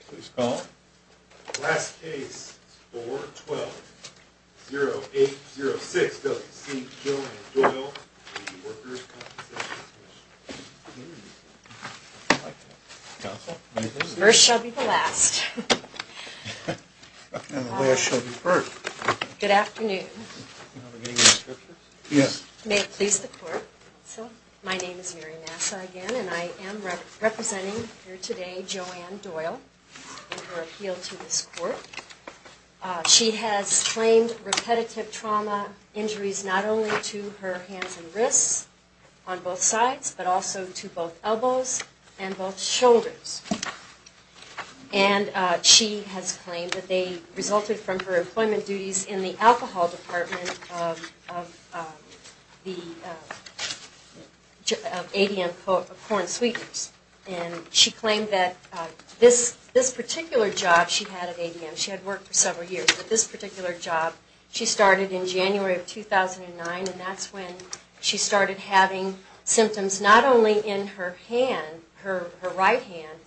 Please call. Last case, 4-12-0806, W.C. Joanne Doyle v. Workers' Compensation Comm'n. First shall be the last. And the last shall be first. Good afternoon. May it please the court. My name is Mary Massa again, and I am representing here today Joanne Doyle and her appeal to this court. She has claimed repetitive trauma injuries not only to her hands and wrists on both sides, but also to both elbows and both shoulders. And she has claimed that they resulted from her employment duties in the alcohol department of ADM corn sweeteners. And she claimed that this particular job she had at ADM, she had worked for several years, but this particular job, she started in January of 2009, and that's when she started having symptoms not only in her hand, her right hand,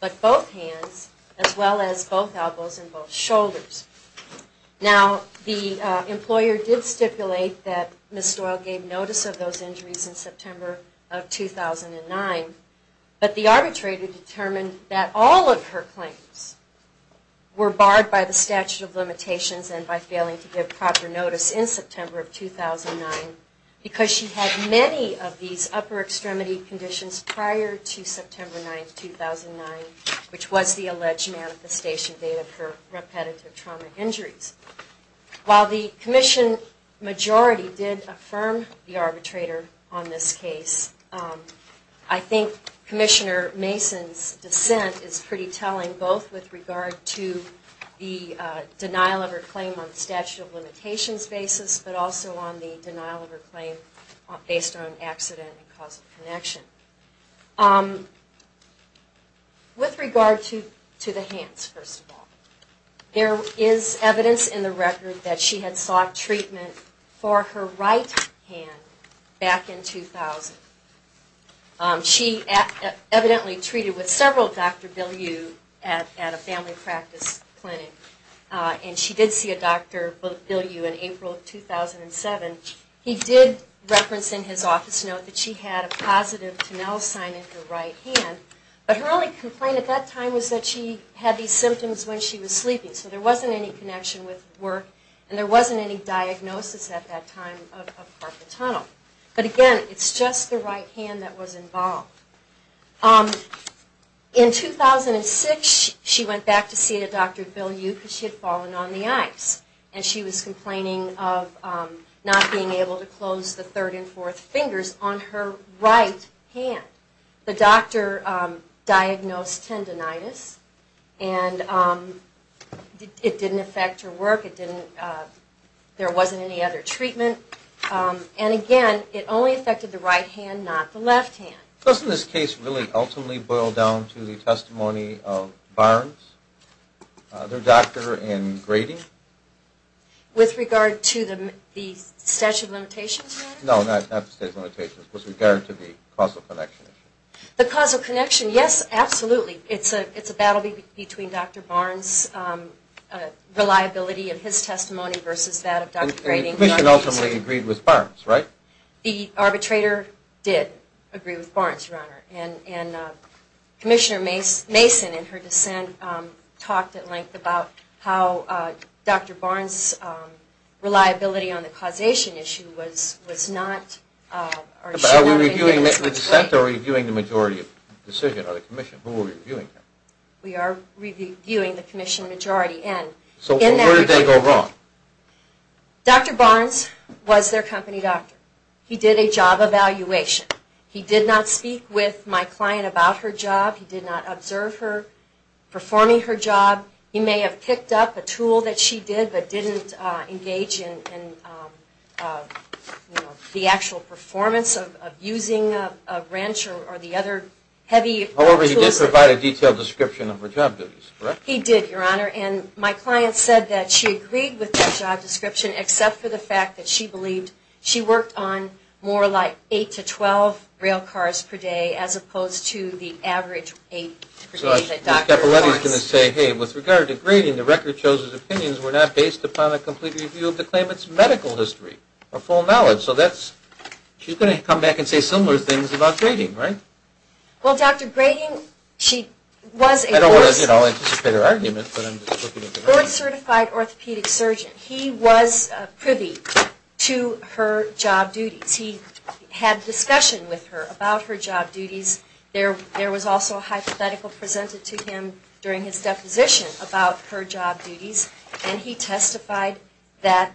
but both hands as well as both elbows and both shoulders. Now, the employer did stipulate that Ms. Doyle gave notice of those injuries in September of 2009, but the arbitrator determined that all of her claims were barred by the statute of limitations and by failing to give proper notice in September of 2009 because she had many of these upper extremity conditions prior to September 9, 2009, which was the alleged manifestation date of her repetitive trauma injuries. While the commission majority did affirm the arbitrator on this case, I think Commissioner Mason's dissent is pretty telling both with regard to the denial of her claim on the statute of limitations basis, but also on the denial of her claim based on accident and causal connection. With regard to the hands, first of all, there is evidence in the record that she had sought treatment for her right hand back in 2000. She evidently treated with several Dr. Billiou at a family practice clinic, and she did see a Dr. Billiou in April of 2007. He did reference in his office note that she had a positive Tonell sign in her right hand, but her only complaint at that time was that she had these symptoms when she was sleeping, so there wasn't any connection with work, and there wasn't any diagnosis at that time of carpal tunnel. But again, it's just the right hand that was involved. In 2006, she went back to see a Dr. Billiou because she had fallen on the ice, and she was complaining of not being able to close the third and fourth fingers on her right hand. The doctor diagnosed tendinitis, and it didn't affect her work. There wasn't any other treatment, and again, it only affected the right hand, not the left hand. Doesn't this case really ultimately boil down to the testimony of Barnes, their doctor, and Grady? With regard to the statute of limitations matter? No, not the statute of limitations, with regard to the causal connection issue. The causal connection, yes, absolutely. It's a battle between Dr. Barnes' reliability of his testimony versus that of Dr. Grady. And the commission ultimately agreed with Barnes, right? The arbitrator did agree with Barnes, Your Honor. And Commissioner Mason, in her dissent, talked at length about how Dr. Barnes' reliability on the causation issue was not... But are we reviewing the dissent, or are we reviewing the majority of the decision, or the commission? Who are we reviewing? We are reviewing the commission majority, and... So where did they go wrong? Dr. Barnes was their company doctor. He did a job evaluation. He did not speak with my client about her job. He did not observe her performing her job. He may have picked up a tool that she did, but didn't engage in the actual performance of using a wrench or the other heavy tools. However, he did provide a detailed description of her job duties, correct? He did, Your Honor. And my client said that she agreed with that job description, except for the fact that she believed she worked on more like 8 to 12 rail cars per day, as opposed to the average 8 per day that Dr. Barnes... Ms. Cappelletti is going to say, hey, with regard to Grady, the record shows his opinions were not based upon a complete review of the claimant's medical history, or full knowledge. So that's... She's going to come back and say similar things about Grady, right? Well, Dr. Grady, she was a... I don't want to anticipate her argument, but I'm just looking at the record. Board-certified orthopedic surgeon. He was privy to her job duties. He had discussion with her about her job duties. There was also a hypothetical presented to him during his deposition about her job duties, and he testified that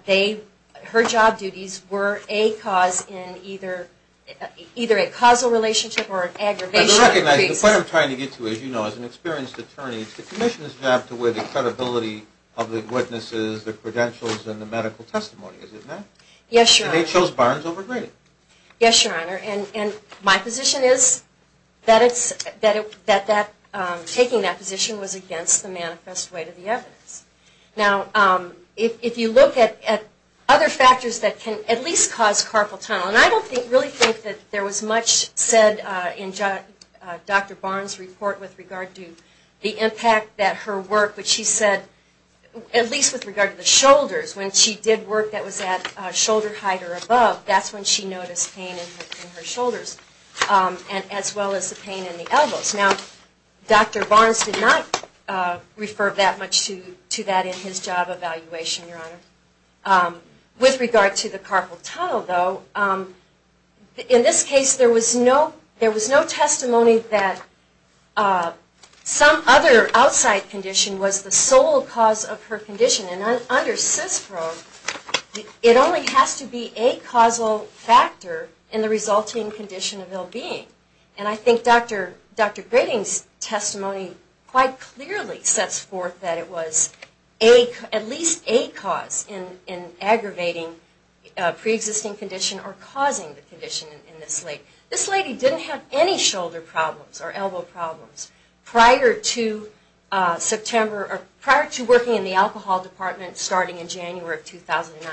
her job duties were a cause in either a causal relationship or an aggravation... What I'm trying to get to, as you know, as an experienced attorney, the commission's job to weigh the credibility of the witnesses, the credentials, and the medical testimony, is it not? Yes, Your Honor. And they chose Barnes over Grady. Yes, Your Honor. And my position is that taking that position was against the manifest way to the evidence. Now, if you look at other factors that can at least cause carpal tunnel, and I don't really think that there was much said in Dr. Barnes' report with regard to the impact that her work, which she said, at least with regard to the shoulders, when she did work that was at shoulder height or above, that's when she noticed pain in her shoulders, as well as the pain in the elbows. Now, Dr. Barnes did not refer that much to that in his job evaluation, Your Honor. With regard to the carpal tunnel, though, in this case there was no testimony that some other outside condition was the sole cause of her condition. And under CISPRO, it only has to be a causal factor in the resulting condition of ill-being. And I think Dr. Grady's testimony quite clearly sets forth that it was at least a cause in aggravating a preexisting condition or causing the condition in this lady. This lady didn't have any shoulder problems or elbow problems prior to September, or prior to working in the alcohol department starting in January of 2009.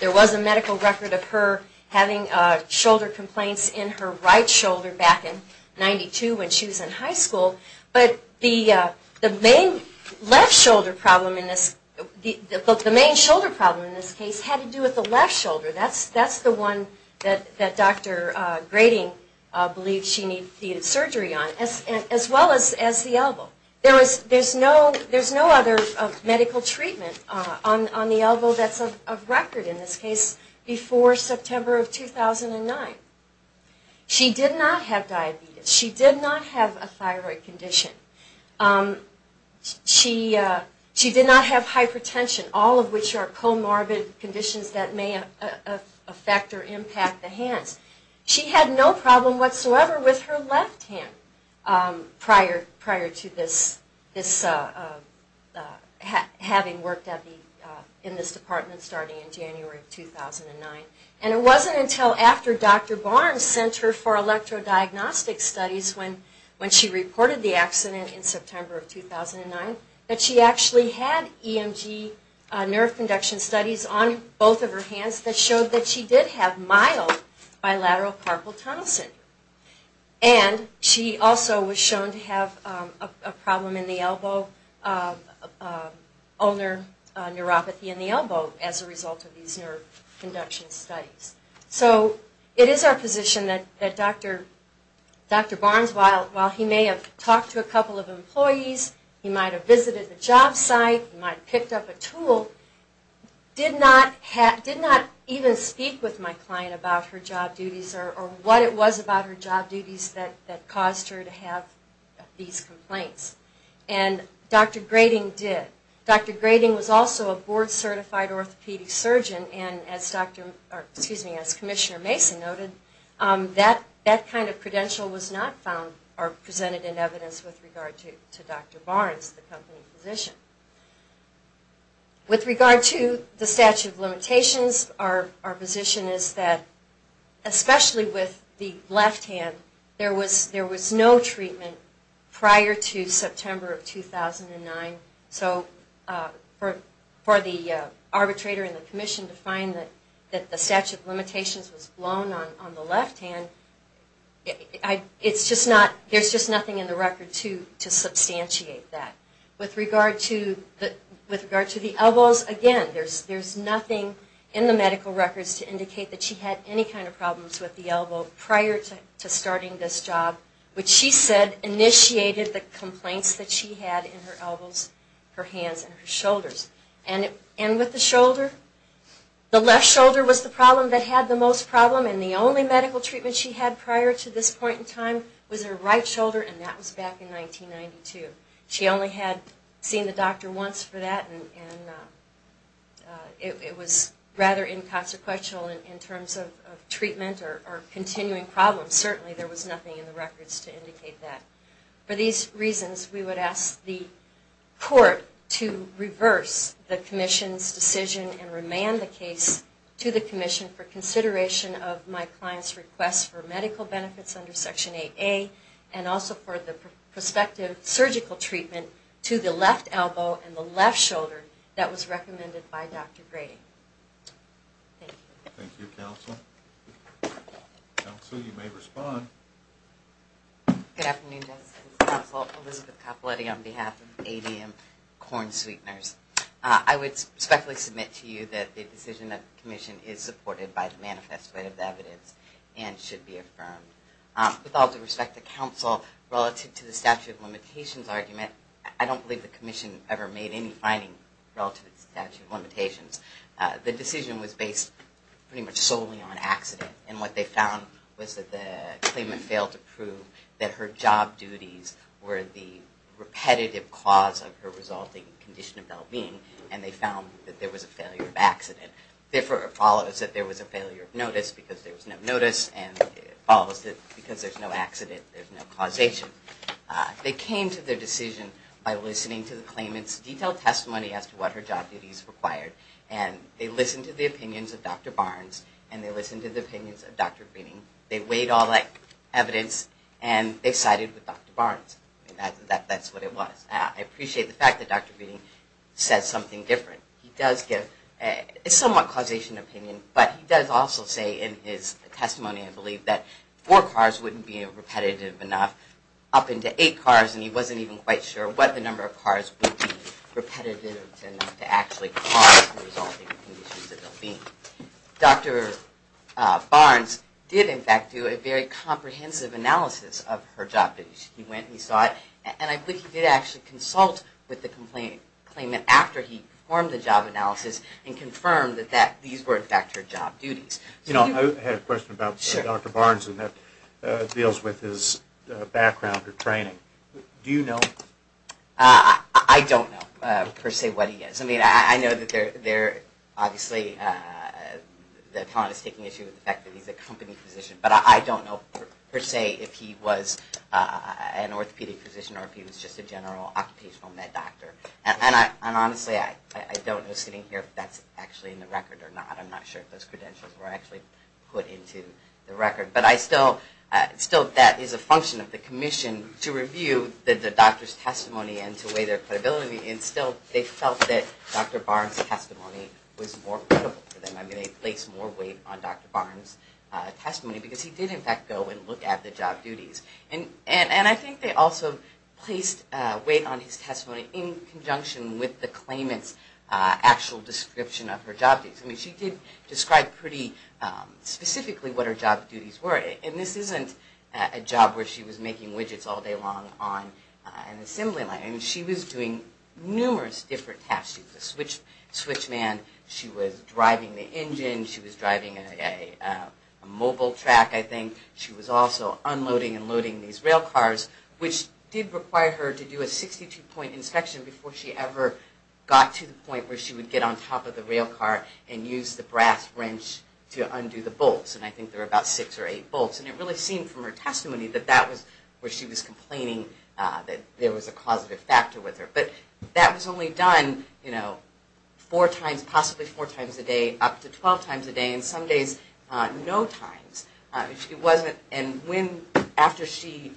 There was a medical record of her having shoulder complaints in her right shoulder back in 1992 when she was in high school. But the main left shoulder problem in this case had to do with the left shoulder. That's the one that Dr. Grady believed she needed surgery on, as well as the elbow. There's no other medical treatment on the elbow that's of record in this case before September of 2009. She did not have diabetes. She did not have a thyroid condition. She did not have hypertension, all of which are comorbid conditions that may affect or impact the hands. She had no problem whatsoever with her left hand prior to having worked in this department starting in January of 2009. And it wasn't until after Dr. Barnes sent her for electrodiagnostic studies when she reported the accident in September of 2009 that she actually had EMG nerve conduction studies on both of her hands that showed that she did have mild bilateral carpal tunnel syndrome. And she also was shown to have a problem in the elbow, ulnar neuropathy in the elbow as a result of these nerve conduction studies. So it is our position that Dr. Barnes, while he may have talked to a couple of employees, he might have visited the job site, he might have picked up a tool, did not even speak with my client about her job duties or what it was about her job duties that caused her to have these complaints. And Dr. Grady did. Dr. Grady was also a board-certified orthopedic surgeon, and as Commissioner Mason noted, that kind of credential was not found or presented in evidence with regard to Dr. Barnes, the company physician. With regard to the statute of limitations, our position is that, especially with the left hand, there was no treatment prior to September of 2009. So for the arbitrator and the commission to find that the statute of limitations was blown on the left hand, there's just nothing in the record to substantiate that. With regard to the elbows, again, there's nothing in the medical records to indicate that she had any kind of problems with the elbow prior to starting this job, which she said initiated the complaints that she had in her elbows, her hands and her shoulders. And with the shoulder, the left shoulder was the problem that had the most problem, and the only medical treatment she had prior to this point in time was her right shoulder, and that was back in 1992. She only had seen the doctor once for that, and it was rather inconsequential in terms of treatment or continuing problems. Certainly there was nothing in the records to indicate that. For these reasons, we would ask the court to reverse the commission's decision and remand the case to the commission for consideration of my client's request for medical benefits under Section 8A, and also for the prospective surgical treatment to the left elbow and the left shoulder that was recommended by Dr. Grady. Thank you. Thank you, counsel. Counsel, you may respond. Good afternoon, Justice and counsel. Elizabeth Capoletti on behalf of ADM Corn Sweeteners. I would respectfully submit to you that the decision of the commission is supported by the manifest way of the evidence and should be affirmed. With all due respect to counsel, relative to the statute of limitations argument, I don't believe the commission ever made any finding relative to the statute of limitations. The decision was based pretty much solely on accident, and what they found was that the claimant failed to prove that her job duties were the repetitive cause of her resulting condition of well-being, and they found that there was a failure of accident. Therefore, it follows that there was a failure of notice because there was no notice, and it follows that because there's no accident, there's no causation. They came to their decision by listening to the claimant's detailed testimony as to what her job duties required, and they listened to the opinions of Dr. Barnes, and they listened to the opinions of Dr. Feeney. They weighed all that evidence, and they sided with Dr. Barnes. That's what it was. I appreciate the fact that Dr. Feeney says something different. He does give a somewhat causation opinion, but he does also say in his testimony, I believe, that four cars wouldn't be repetitive enough, up into eight cars, and he wasn't even quite sure what the number of cars would be repetitive enough to actually cause the resulting conditions of well-being. Dr. Barnes did, in fact, do a very comprehensive analysis of her job duties. He went and he saw it, and I believe he did actually consult with the claimant after he performed the job analysis and confirmed that these were, in fact, her job duties. You know, I had a question about Dr. Barnes, and that deals with his background or training. Do you know? I don't know, per se, what he is. I mean, I know that they're obviously, the client is taking issue with the fact that he's a company physician, but I don't know, per se, if he was an orthopedic physician or if he was just a general occupational med doctor. And honestly, I don't know, sitting here, if that's actually in the record or not. I'm not sure if those credentials were actually put into the record. But I still, still that is a function of the commission to review the doctor's testimony and to weigh their credibility, and still they felt that Dr. Barnes' testimony was more credible to them. I mean, they placed more weight on Dr. Barnes' testimony because he did, in fact, go and look at the job duties. And I think they also placed weight on his testimony in conjunction with the claimant's actual description of her job duties. I mean, she did describe pretty specifically what her job duties were. And this isn't a job where she was making widgets all day long on an assembly line. I mean, she was doing numerous different tasks. She was a switch man. She was driving the engine. She was driving a mobile track, I think. She was also unloading and loading these rail cars, which did require her to do a 62-point inspection before she ever got to the point where she would get on top of the rail car and use the brass wrench to undo the bolts. And I think there were about six or eight bolts. And it really seemed from her testimony that that was where she was complaining that there was a causative factor with her. But that was only done, you know, four times, possibly four times a day, up to 12 times a day. And some days, no times. And when, after she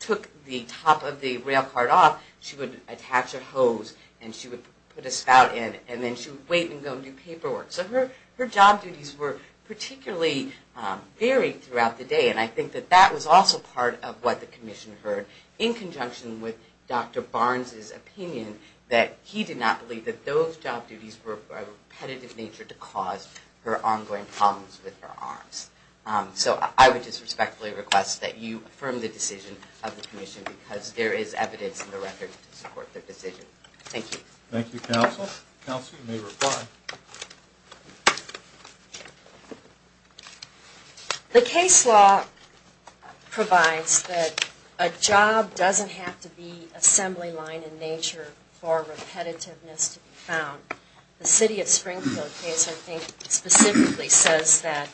took the top of the rail car off, she would attach a hose and she would put a spout in. And then she would wait and go and do paperwork. So her job duties were particularly varied throughout the day. And I think that that was also part of what the commission heard in conjunction with Dr. Barnes's opinion that he did not believe that those job duties were of a repetitive nature to cause her ongoing problems with her arms. So I would just respectfully request that you affirm the decision of the commission, because there is evidence in the record to support the decision. Thank you. Thank you, counsel. Counsel, you may reply. The case law provides that a job doesn't have to be assembly line in nature for repetitiveness to be found. The city of Springfield case, I think, specifically says that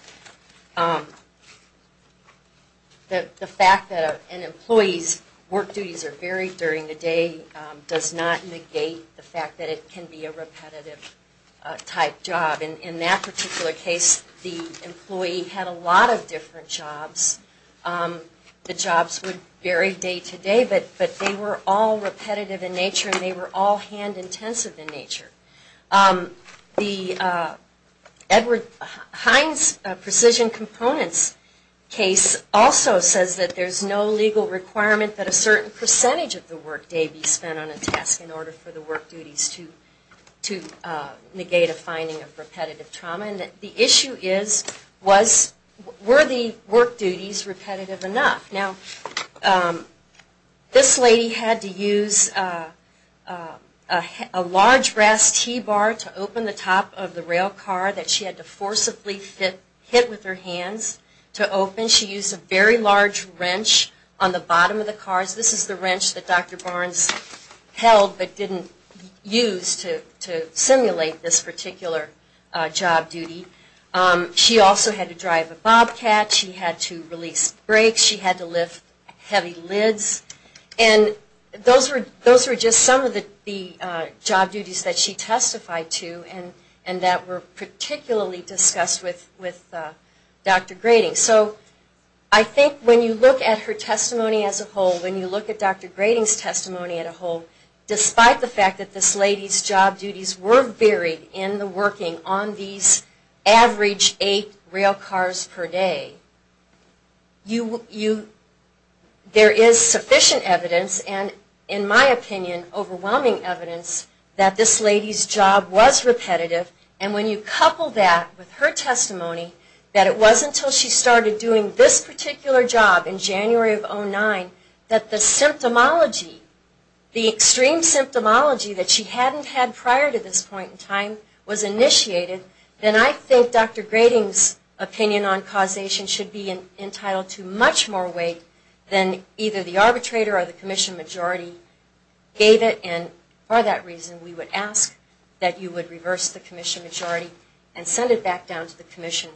the fact that an employee's work duties are varied during the day does not negate the fact that it can be a repetitive type job. In that particular case, the employee had a lot of different jobs. The jobs would vary day to day, but they were all repetitive in nature and they were all hand intensive in nature. The Edward Hines Precision Components case also says that there's no legal requirement that a certain percentage of the work day be spent on a task in order for the work duties to negate a finding of repetitive trauma. And the issue is, were the work duties repetitive enough? Now, this lady had to use a large brass T-bar to open the top of the rail car that she had to forcibly hit with her hands to open. She used a very large wrench on the bottom of the cars. This is the wrench that Dr. Barnes held but didn't use to simulate this particular job duty. She also had to drive a bobcat. She had to release brakes. She had to lift heavy lids. And those were just some of the job duties that she testified to and that were particularly discussed with Dr. Grading. So I think when you look at her testimony as a whole, when you look at Dr. Grading's testimony as a whole, despite the fact that this lady's job duties were varied in the working on these average eight rail cars per day, there is sufficient evidence and, in my opinion, overwhelming evidence that this lady's job was repetitive. And when you couple that with her testimony that it wasn't until she started doing this particular job in January of 2009 that the symptomology, the extreme symptomology that she hadn't had prior to this point in time was initiated, then I think Dr. Grading's opinion on causation should be entitled to much more weight than either the arbitrator or the commission majority gave it. And for that reason, we would ask that you would reverse the commission majority and send it back down to the commission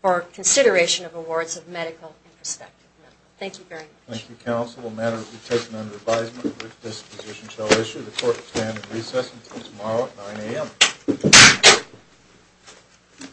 for consideration of awards of medical and prospective medical. Thank you very much. Thank you, counsel. The matter will be taken under advisement. The brief disposition shall issue. The court will stand at recess until tomorrow at 9 a.m.